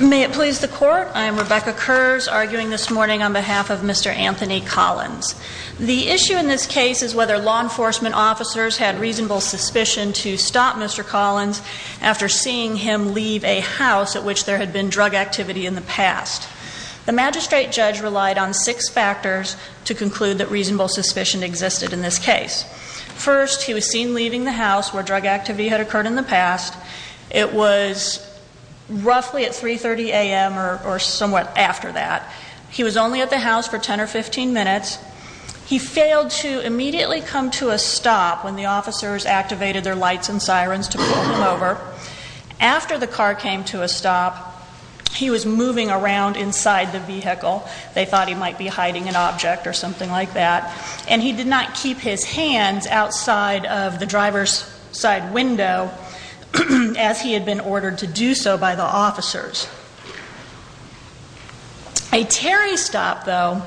May it please the court I am Rebecca curves arguing this morning on behalf of Mr. Anthony Collins. The issue in this case is whether law enforcement officers had reasonable suspicion to stop Mr. Collins after seeing him leave a house at which there had been drug activity in the past. The magistrate judge relied on six factors to conclude that reasonable suspicion existed in this case. First, he was seen leaving the house where drug activity had occurred in the past. It was roughly at 3.30 a.m. or somewhat after that. He was only at the house for 10 or 15 minutes. He failed to immediately come to a stop when the officers activated their lights and sirens to pull him over. After the car came to a stop, he was moving around inside the vehicle. They thought he might be hiding an object or something like that. And he did not keep his hands outside of the driver's side window as he had been ordered to do so by the officers. A Terry stop, though,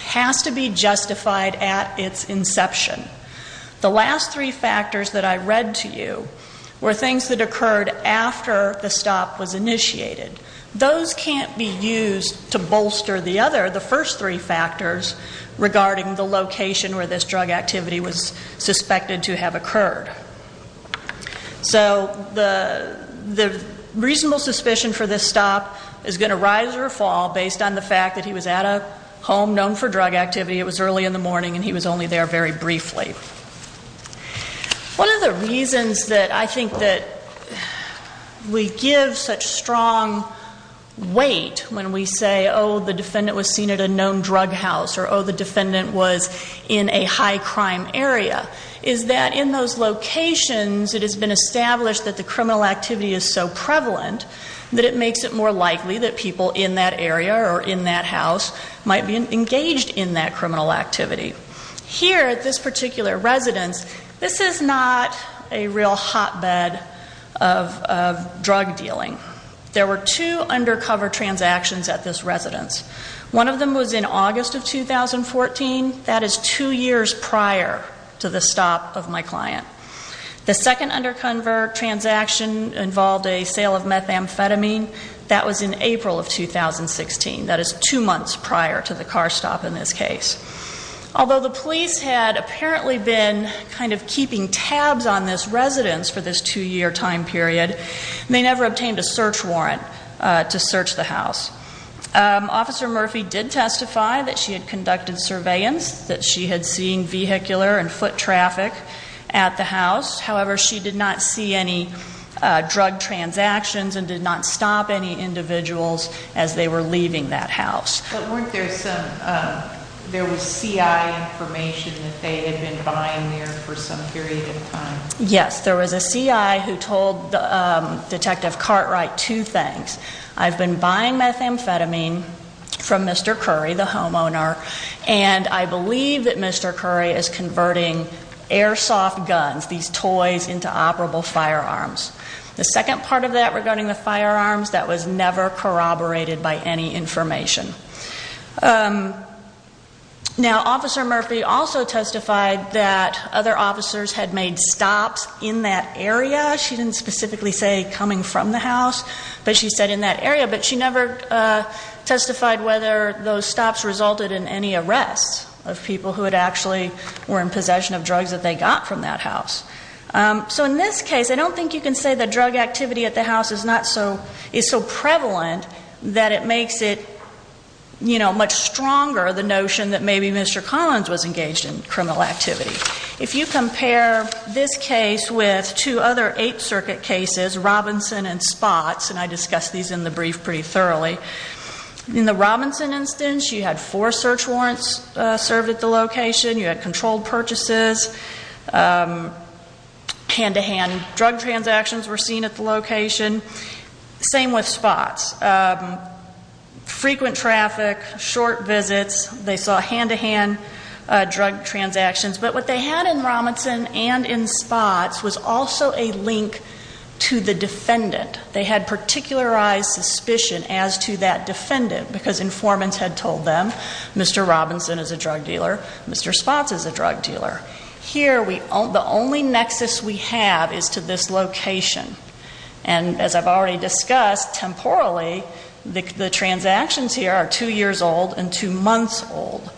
has to be justified at its inception. The last three factors that I read to you were things that occurred after the stop was initiated. Those can't be used to bolster the other, the first three factors regarding the location where this drug activity was suspected to have occurred. So the reasonable suspicion for this stop is going to rise or fall based on the fact that he was at a home known for drug activity. It was early in the morning and he was only there very briefly. One of the reasons that I think that we give such strong weight when we say, oh, the defendant was seen at a known drug house or, oh, the defendant was in a high crime area, is that in those locations it has been established that the criminal activity is so prevalent that it makes it more likely that people in that area or in that house might be engaged in that criminal activity. Here at this particular residence, this is not a real hotbed of drug dealing. There were two undercover transactions at this residence. One of them was in August of 2014. That is two years prior to the stop of my client. The second undercover transaction involved a sale of methamphetamine. That was in April of 2016. That is two months prior to the car stop in this case. Although the police had apparently been kind of keeping tabs on this residence for this two-year time period, they never obtained a search warrant to search the house. Officer Murphy did testify that she had conducted surveillance, that she had seen vehicular and foot traffic at the house. However, she did not see any drug transactions and did not stop any individuals as they were leaving that house. But weren't there some, there was CI information that they had been buying there for some period of time? Yes, there was a CI who told Detective Cartwright two things. I've been buying methamphetamine from Mr. Curry, the homeowner, and I believe that Mr. Curry is converting airsoft guns, these toys, into operable firearms. The second part of that regarding the firearms, that was never corroborated by any information. Now, Officer Murphy also testified that other officers had made stops in that area. She didn't specifically say coming from the house, but she said in that area. But she never testified whether those stops resulted in any arrests of people who had actually, were in possession of drugs that they got from that house. So in this case, I don't think you can say that drug activity at the house is not so, is so prevalent that it makes it, you know, much stronger, the notion that maybe Mr. Collins was engaged in criminal activity. If you compare this case with two other Eighth Circuit cases, Robinson and Spots, and I discussed these in the brief pretty thoroughly. In the Robinson instance, you had four search warrants served at the location. You had controlled purchases. Hand-to-hand drug transactions were seen at the location. Same with Spots. Frequent traffic, short visits, they saw hand-to-hand drug transactions. But what they had in Robinson and in Spots was also a link to the defendant. They had particularized suspicion as to that defendant because informants had told them Mr. Robinson is a drug dealer, Mr. Spots is a drug dealer. Here, the only nexus we have is to this location. And as I've already discussed, temporally, the transactions here are two years old and two months old.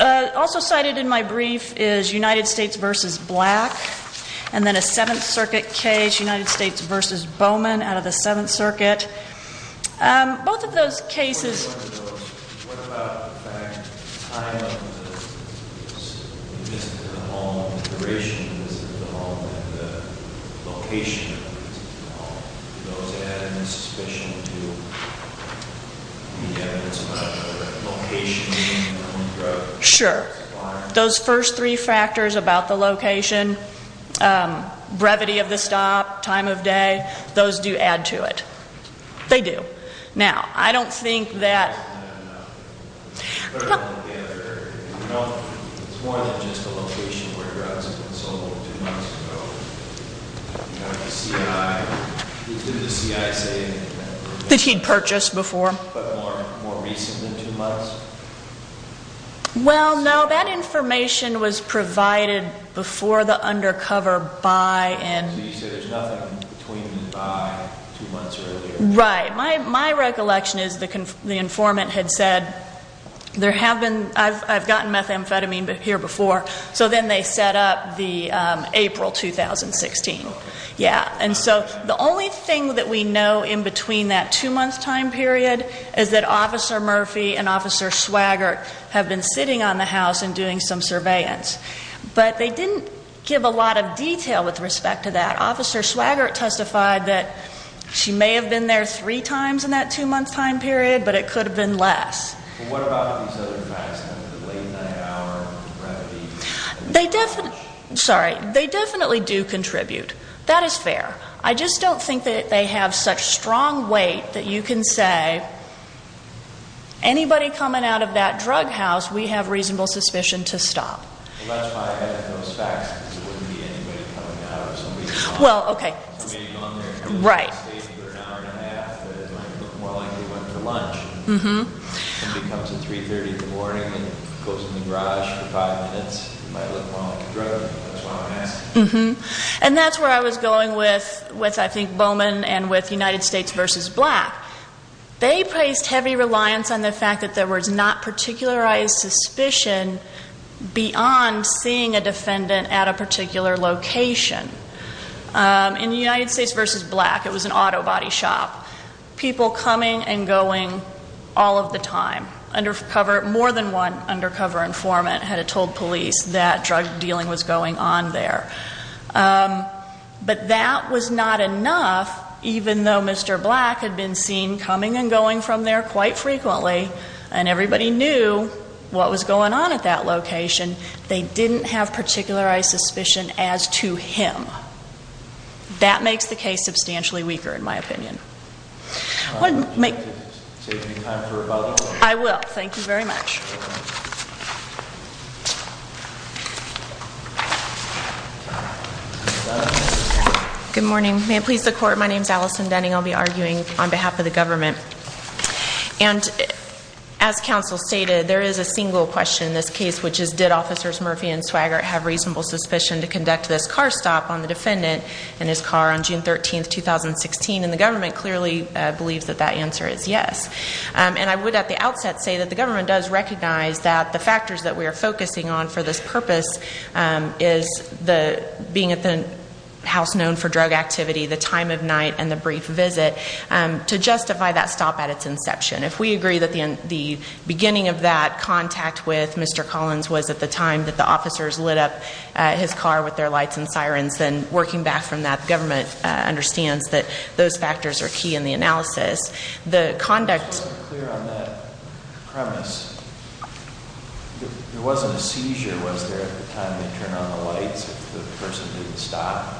Also cited in my brief is United States v. Black and then a Seventh Circuit case, United States v. Bowman out of the Seventh Circuit. Both of those cases... What about the fact that the time of the visit to the home, the duration of the visit to the home, and the location of the visit to the home? Do those add any suspicion to the evidence about the location of the hand-to-hand drug? Sure. Those first three factors about the location, brevity of the stop, time of day, those do add to it. They do. Now, I don't think that... It's more than just a location where drugs have been sold two months ago. Did the C.I. say anything about... That he'd purchased before. But more recent than two months? Well, no. That information was provided before the undercover buy-in. So you say there's nothing between the buy two months earlier? Right. My recollection is the informant had said, I've gotten methamphetamine here before. So then they set up the April 2016. And so the only thing that we know in between that two-month time period is that Officer Murphy and Officer Swaggart have been sitting on the house and doing some surveillance. But they didn't give a lot of detail with respect to that. Officer Swaggart testified that she may have been there three times in that two-month time period, but it could have been less. What about these other facts, the late night hour, brevity? They definitely do contribute. That is fair. I just don't think that they have such strong weight that you can say, anybody coming out of that drug house, we have reasonable suspicion to stop. Well, that's why I have those facts, because it wouldn't be anybody coming out of somebody's house. Well, okay. We may have gone there and stayed for an hour and a half, but it might look more like they went for lunch. Somebody comes in at 3.30 in the morning and goes in the garage for five minutes. It might look more like a drug. That's why I'm asking. And that's where I was going with, I think, Bowman and with United States v. Black. They placed heavy reliance on the fact that there was not particularized suspicion beyond seeing a defendant at a particular location. In the United States v. Black, it was an auto body shop. People coming and going all of the time. More than one undercover informant had told police that drug dealing was going on there. But that was not enough, even though Mr. Black had been seen coming and going from there quite frequently, and everybody knew what was going on at that location. They didn't have particularized suspicion as to him. That makes the case substantially weaker, in my opinion. Would you like to take any time for rebuttal? I will. Thank you very much. Good morning. May it please the Court, my name is Allison Denning. I'll be arguing on behalf of the government. And as counsel stated, there is a single question in this case, which is, did Officers Murphy and Swaggart have reasonable suspicion to conduct this car stop on the defendant in his car on June 13, 2016? And the government clearly believes that that answer is yes. And I would at the outset say that the government does recognize that the factors that we are focusing on for this purpose is being at the house known for drug activity, the time of night, and the brief visit to justify that stop at its inception. If we agree that the beginning of that contact with Mr. Collins was at the time that the officers lit up his car with their lights and sirens, then working back from that, the government understands that those factors are key in the analysis. Just to be clear on that premise, there wasn't a seizure, was there, at the time they turned on the lights, if the person didn't stop?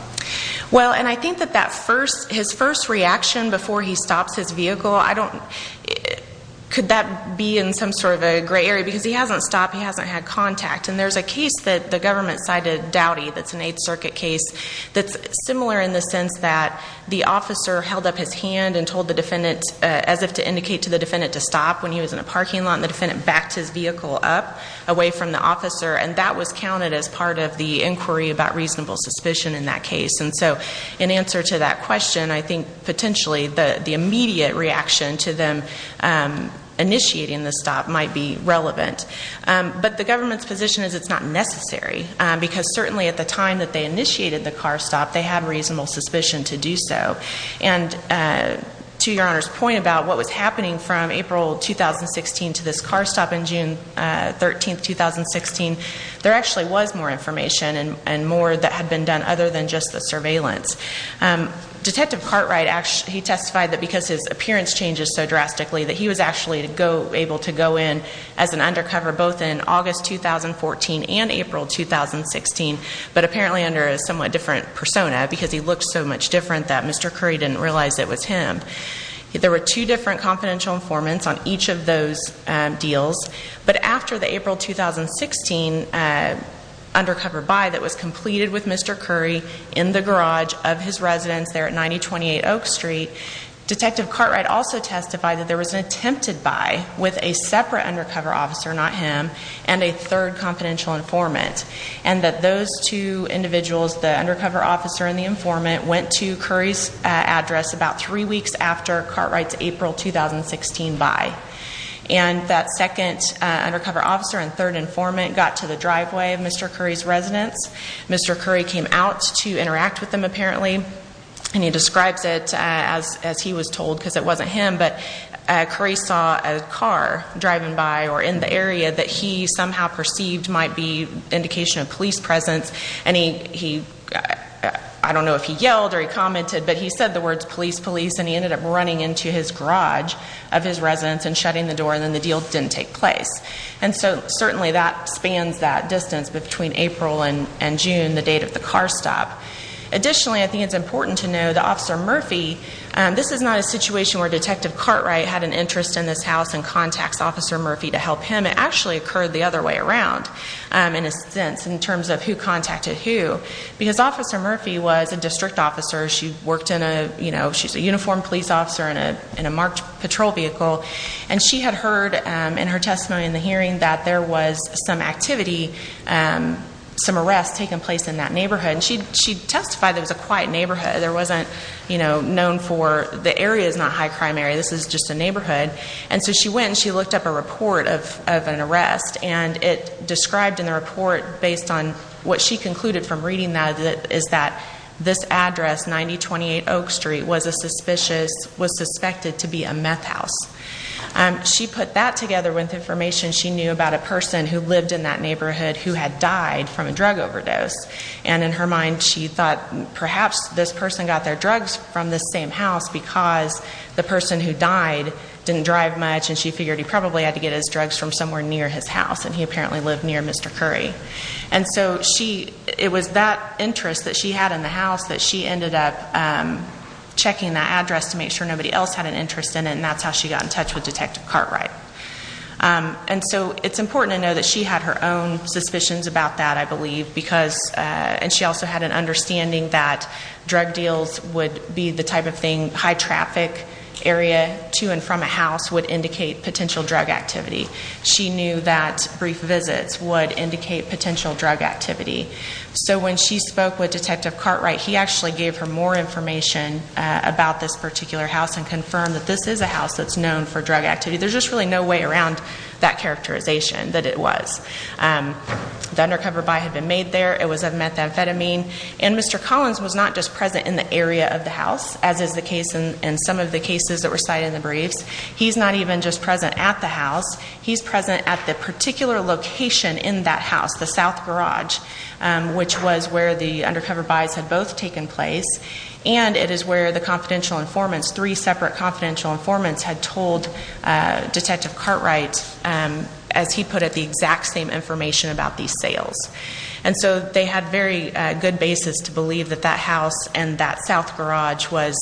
As if to indicate to the defendant to stop when he was in a parking lot, the defendant backed his vehicle up away from the officer, and that was counted as part of the inquiry about reasonable suspicion in that case. And so in answer to that question, I think potentially the immediate reaction to them initiating the stop might be relevant. But the government's position is it's not necessary, because certainly at the time that they initiated the car stop, they had reasonable suspicion to do so. And to Your Honor's point about what was happening from April 2016 to this car stop on June 13, 2016, there actually was more information and more that had been done other than just the surveillance. Detective Cartwright, he testified that because his appearance changes so drastically, that he was actually able to go in as an undercover both in August 2014 and April 2016, but apparently under a somewhat different persona because he looked so much different that Mr. Curry didn't realize it was him. There were two different confidential informants on each of those deals. But after the April 2016 undercover buy that was completed with Mr. Curry in the garage of his residence there at 9028 Oak Street, Detective Cartwright also testified that there was an attempted buy with a separate undercover officer, not him, and a third confidential informant, and that those two individuals, the undercover officer and the informant, went to Curry's address about three weeks after Cartwright's April 2016 buy. And that second undercover officer and third informant got to the driveway of Mr. Curry's residence. Mr. Curry came out to interact with them apparently, and he describes it as he was told because it wasn't him, but Curry saw a car driving by or in the area that he somehow perceived might be indication of police presence. And he, I don't know if he yelled or he commented, but he said the words police, police, and he ended up running into his garage of his residence and shutting the door, and then the deal didn't take place. And so certainly that spans that distance between April and June, the date of the car stop. Additionally, I think it's important to know that Officer Murphy, this is not a situation where Detective Cartwright had an interest in this house and contacts Officer Murphy to help him. It actually occurred the other way around in a sense in terms of who contacted who. Because Officer Murphy was a district officer. She worked in a, you know, she's a uniformed police officer in a marked patrol vehicle, and she had heard in her testimony in the hearing that there was some activity, some arrests taking place in that neighborhood. And she testified it was a quiet neighborhood. There wasn't, you know, known for the area is not high crime area. This is just a neighborhood. And so she went and she looked up a report of an arrest, and it described in the report based on what she concluded from reading that is that this address, 9028 Oak Street, was a suspicious, was suspected to be a meth house. She put that together with information she knew about a person who lived in that neighborhood who had died from a drug overdose. And in her mind she thought perhaps this person got their drugs from this same house because the person who died didn't drive much, and she figured he probably had to get his drugs from somewhere near his house. And he apparently lived near Mr. Curry. And so she, it was that interest that she had in the house that she ended up checking that address to make sure nobody else had an interest in it, and that's how she got in touch with Detective Cartwright. And so it's important to know that she had her own suspicions about that, I believe, because, and she also had an understanding that drug deals would be the type of thing, high traffic area to and from a house would indicate potential drug activity. She knew that brief visits would indicate potential drug activity. So when she spoke with Detective Cartwright, he actually gave her more information about this particular house and confirmed that this is a house that's known for drug activity. There's just really no way around that characterization that it was. The undercover buy had been made there. It was of methamphetamine, and Mr. Collins was not just present in the area of the house, as is the case in some of the cases that were cited in the briefs. He's not even just present at the house. He's present at the particular location in that house, the south garage, which was where the undercover buys had both taken place, and it is where the confidential informants, three separate confidential informants, had told Detective Cartwright, as he put it, the exact same information about these sales. And so they had very good basis to believe that that house and that south garage was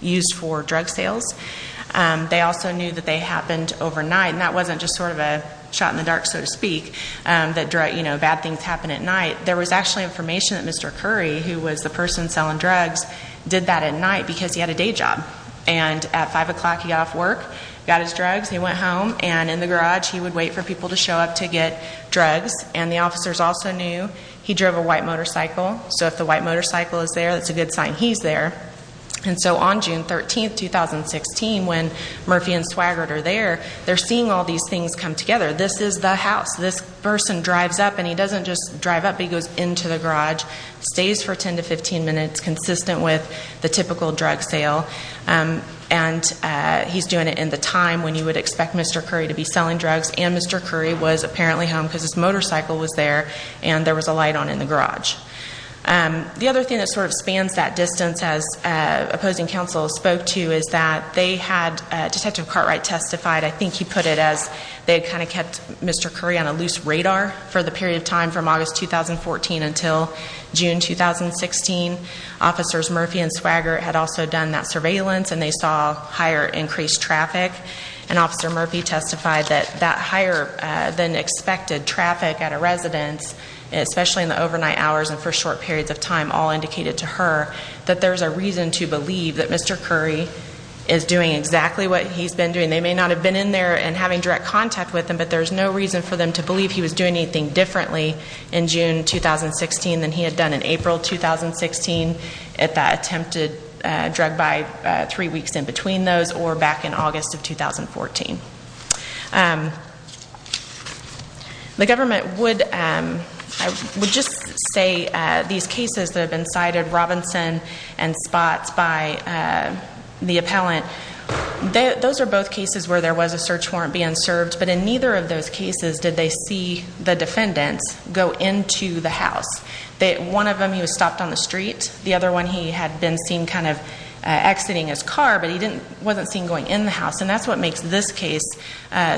used for drug sales. They also knew that they happened overnight, and that wasn't just sort of a shot in the dark, so to speak, that bad things happen at night. There was actually information that Mr. Curry, who was the person selling drugs, did that at night because he had a day job. And at 5 o'clock he got off work, got his drugs, he went home, and in the garage he would wait for people to show up to get drugs. And the officers also knew he drove a white motorcycle, so if the white motorcycle is there, that's a good sign he's there. And so on June 13, 2016, when Murphy and Swaggart are there, they're seeing all these things come together. This is the house. This person drives up, and he doesn't just drive up, he goes into the garage, stays for 10 to 15 minutes, consistent with the typical drug sale. And he's doing it in the time when you would expect Mr. Curry to be selling drugs, and Mr. Curry was apparently home because his motorcycle was there and there was a light on in the garage. The other thing that sort of spans that distance, as opposing counsel spoke to, is that they had Detective Cartwright testified. I think he put it as they had kind of kept Mr. Curry on a loose radar for the period of time from August 2014 until June 2016. Officers Murphy and Swaggart had also done that surveillance, and they saw higher increased traffic. And Officer Murphy testified that that higher than expected traffic at a residence, especially in the overnight hours and for short periods of time, all indicated to her that there's a reason to believe that Mr. Curry is doing exactly what he's been doing. They may not have been in there and having direct contact with him, but there's no reason for them to believe he was doing anything differently in June 2016 than he had done in April 2016 at that attempted drug buy, three weeks in between those, or back in August of 2014. The government would just say these cases that have been cited, Robinson and Spots, by the appellant, those are both cases where there was a search warrant being served, but in neither of those cases did they see the defendants go into the house. One of them, he was stopped on the street. The other one, he had been seen kind of exiting his car, but he wasn't seen going in the house. And that's what makes this case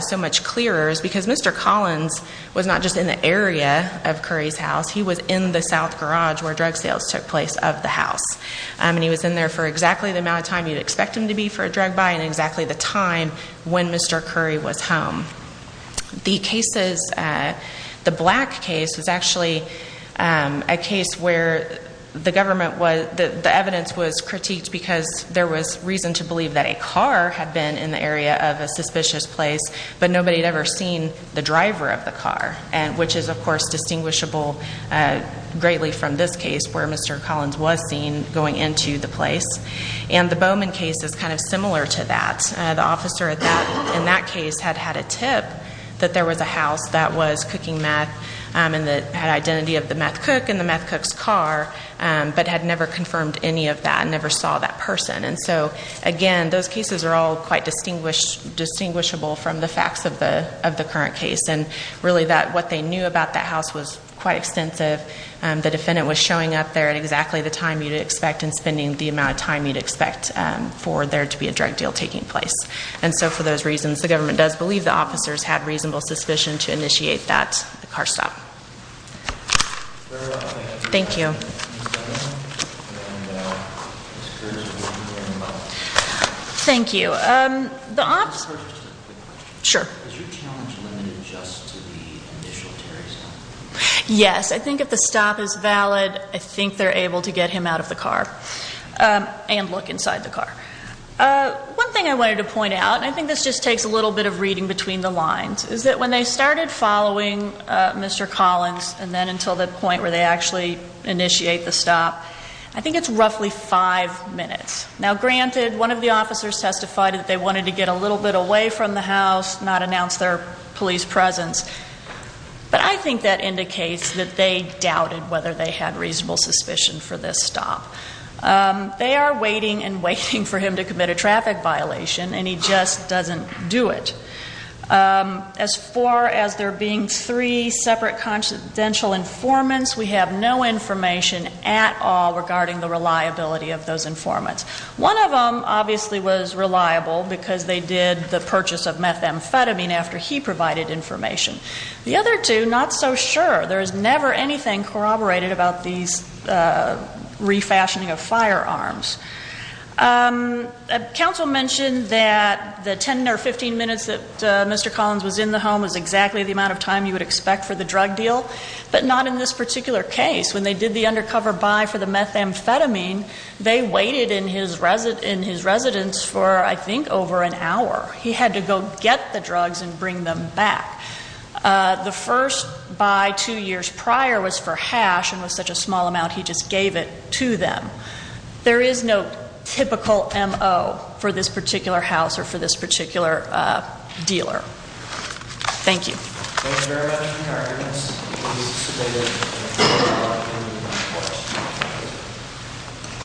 so much clearer, is because Mr. Collins was not just in the area of Curry's house. He was in the south garage where drug sales took place of the house. And he was in there for exactly the amount of time you'd expect him to be for a drug buy and exactly the time when Mr. Curry was home. The black case was actually a case where the evidence was critiqued because there was reason to believe that a car had been in the area of a suspicious place, but nobody had ever seen the driver of the car, which is, of course, distinguishable greatly from this case where Mr. Collins was seen going into the place. And the Bowman case is kind of similar to that. The officer in that case had had a tip that there was a house that was cooking meth and that had identity of the meth cook in the meth cook's car, but had never confirmed any of that and never saw that person. And so, again, those cases are all quite distinguishable from the facts of the current case. And, really, what they knew about that house was quite extensive. The defendant was showing up there at exactly the time you'd expect and spending the amount of time you'd expect for there to be a drug deal taking place. And so, for those reasons, the government does believe the officers had reasonable suspicion to initiate that car stop. Thank you. Thank you. I have a question. Sure. Is your challenge limited just to the initial terrorism? Yes. I think if the stop is valid, I think they're able to get him out of the car and look inside the car. One thing I wanted to point out, and I think this just takes a little bit of reading between the lines, is that when they started following Mr. Collins and then until the point where they actually initiate the stop, I think it's roughly five minutes. Now, granted, one of the officers testified that they wanted to get a little bit away from the house, not announce their police presence, but I think that indicates that they doubted whether they had reasonable suspicion for this stop. They are waiting and waiting for him to commit a traffic violation, and he just doesn't do it. As far as there being three separate constitutional informants, we have no information at all regarding the reliability of those informants. One of them obviously was reliable because they did the purchase of methamphetamine after he provided information. The other two, not so sure. There is never anything corroborated about these refashioning of firearms. Council mentioned that the 10 or 15 minutes that Mr. Collins was in the home was exactly the amount of time you would expect for the drug deal, but not in this particular case. When they did the undercover buy for the methamphetamine, they waited in his residence for, I think, over an hour. He had to go get the drugs and bring them back. The first buy two years prior was for hash and was such a small amount, he just gave it to them. There is no typical MO for this particular house or for this particular dealer. Thank you. Thank you very much, Mr. Cardenas.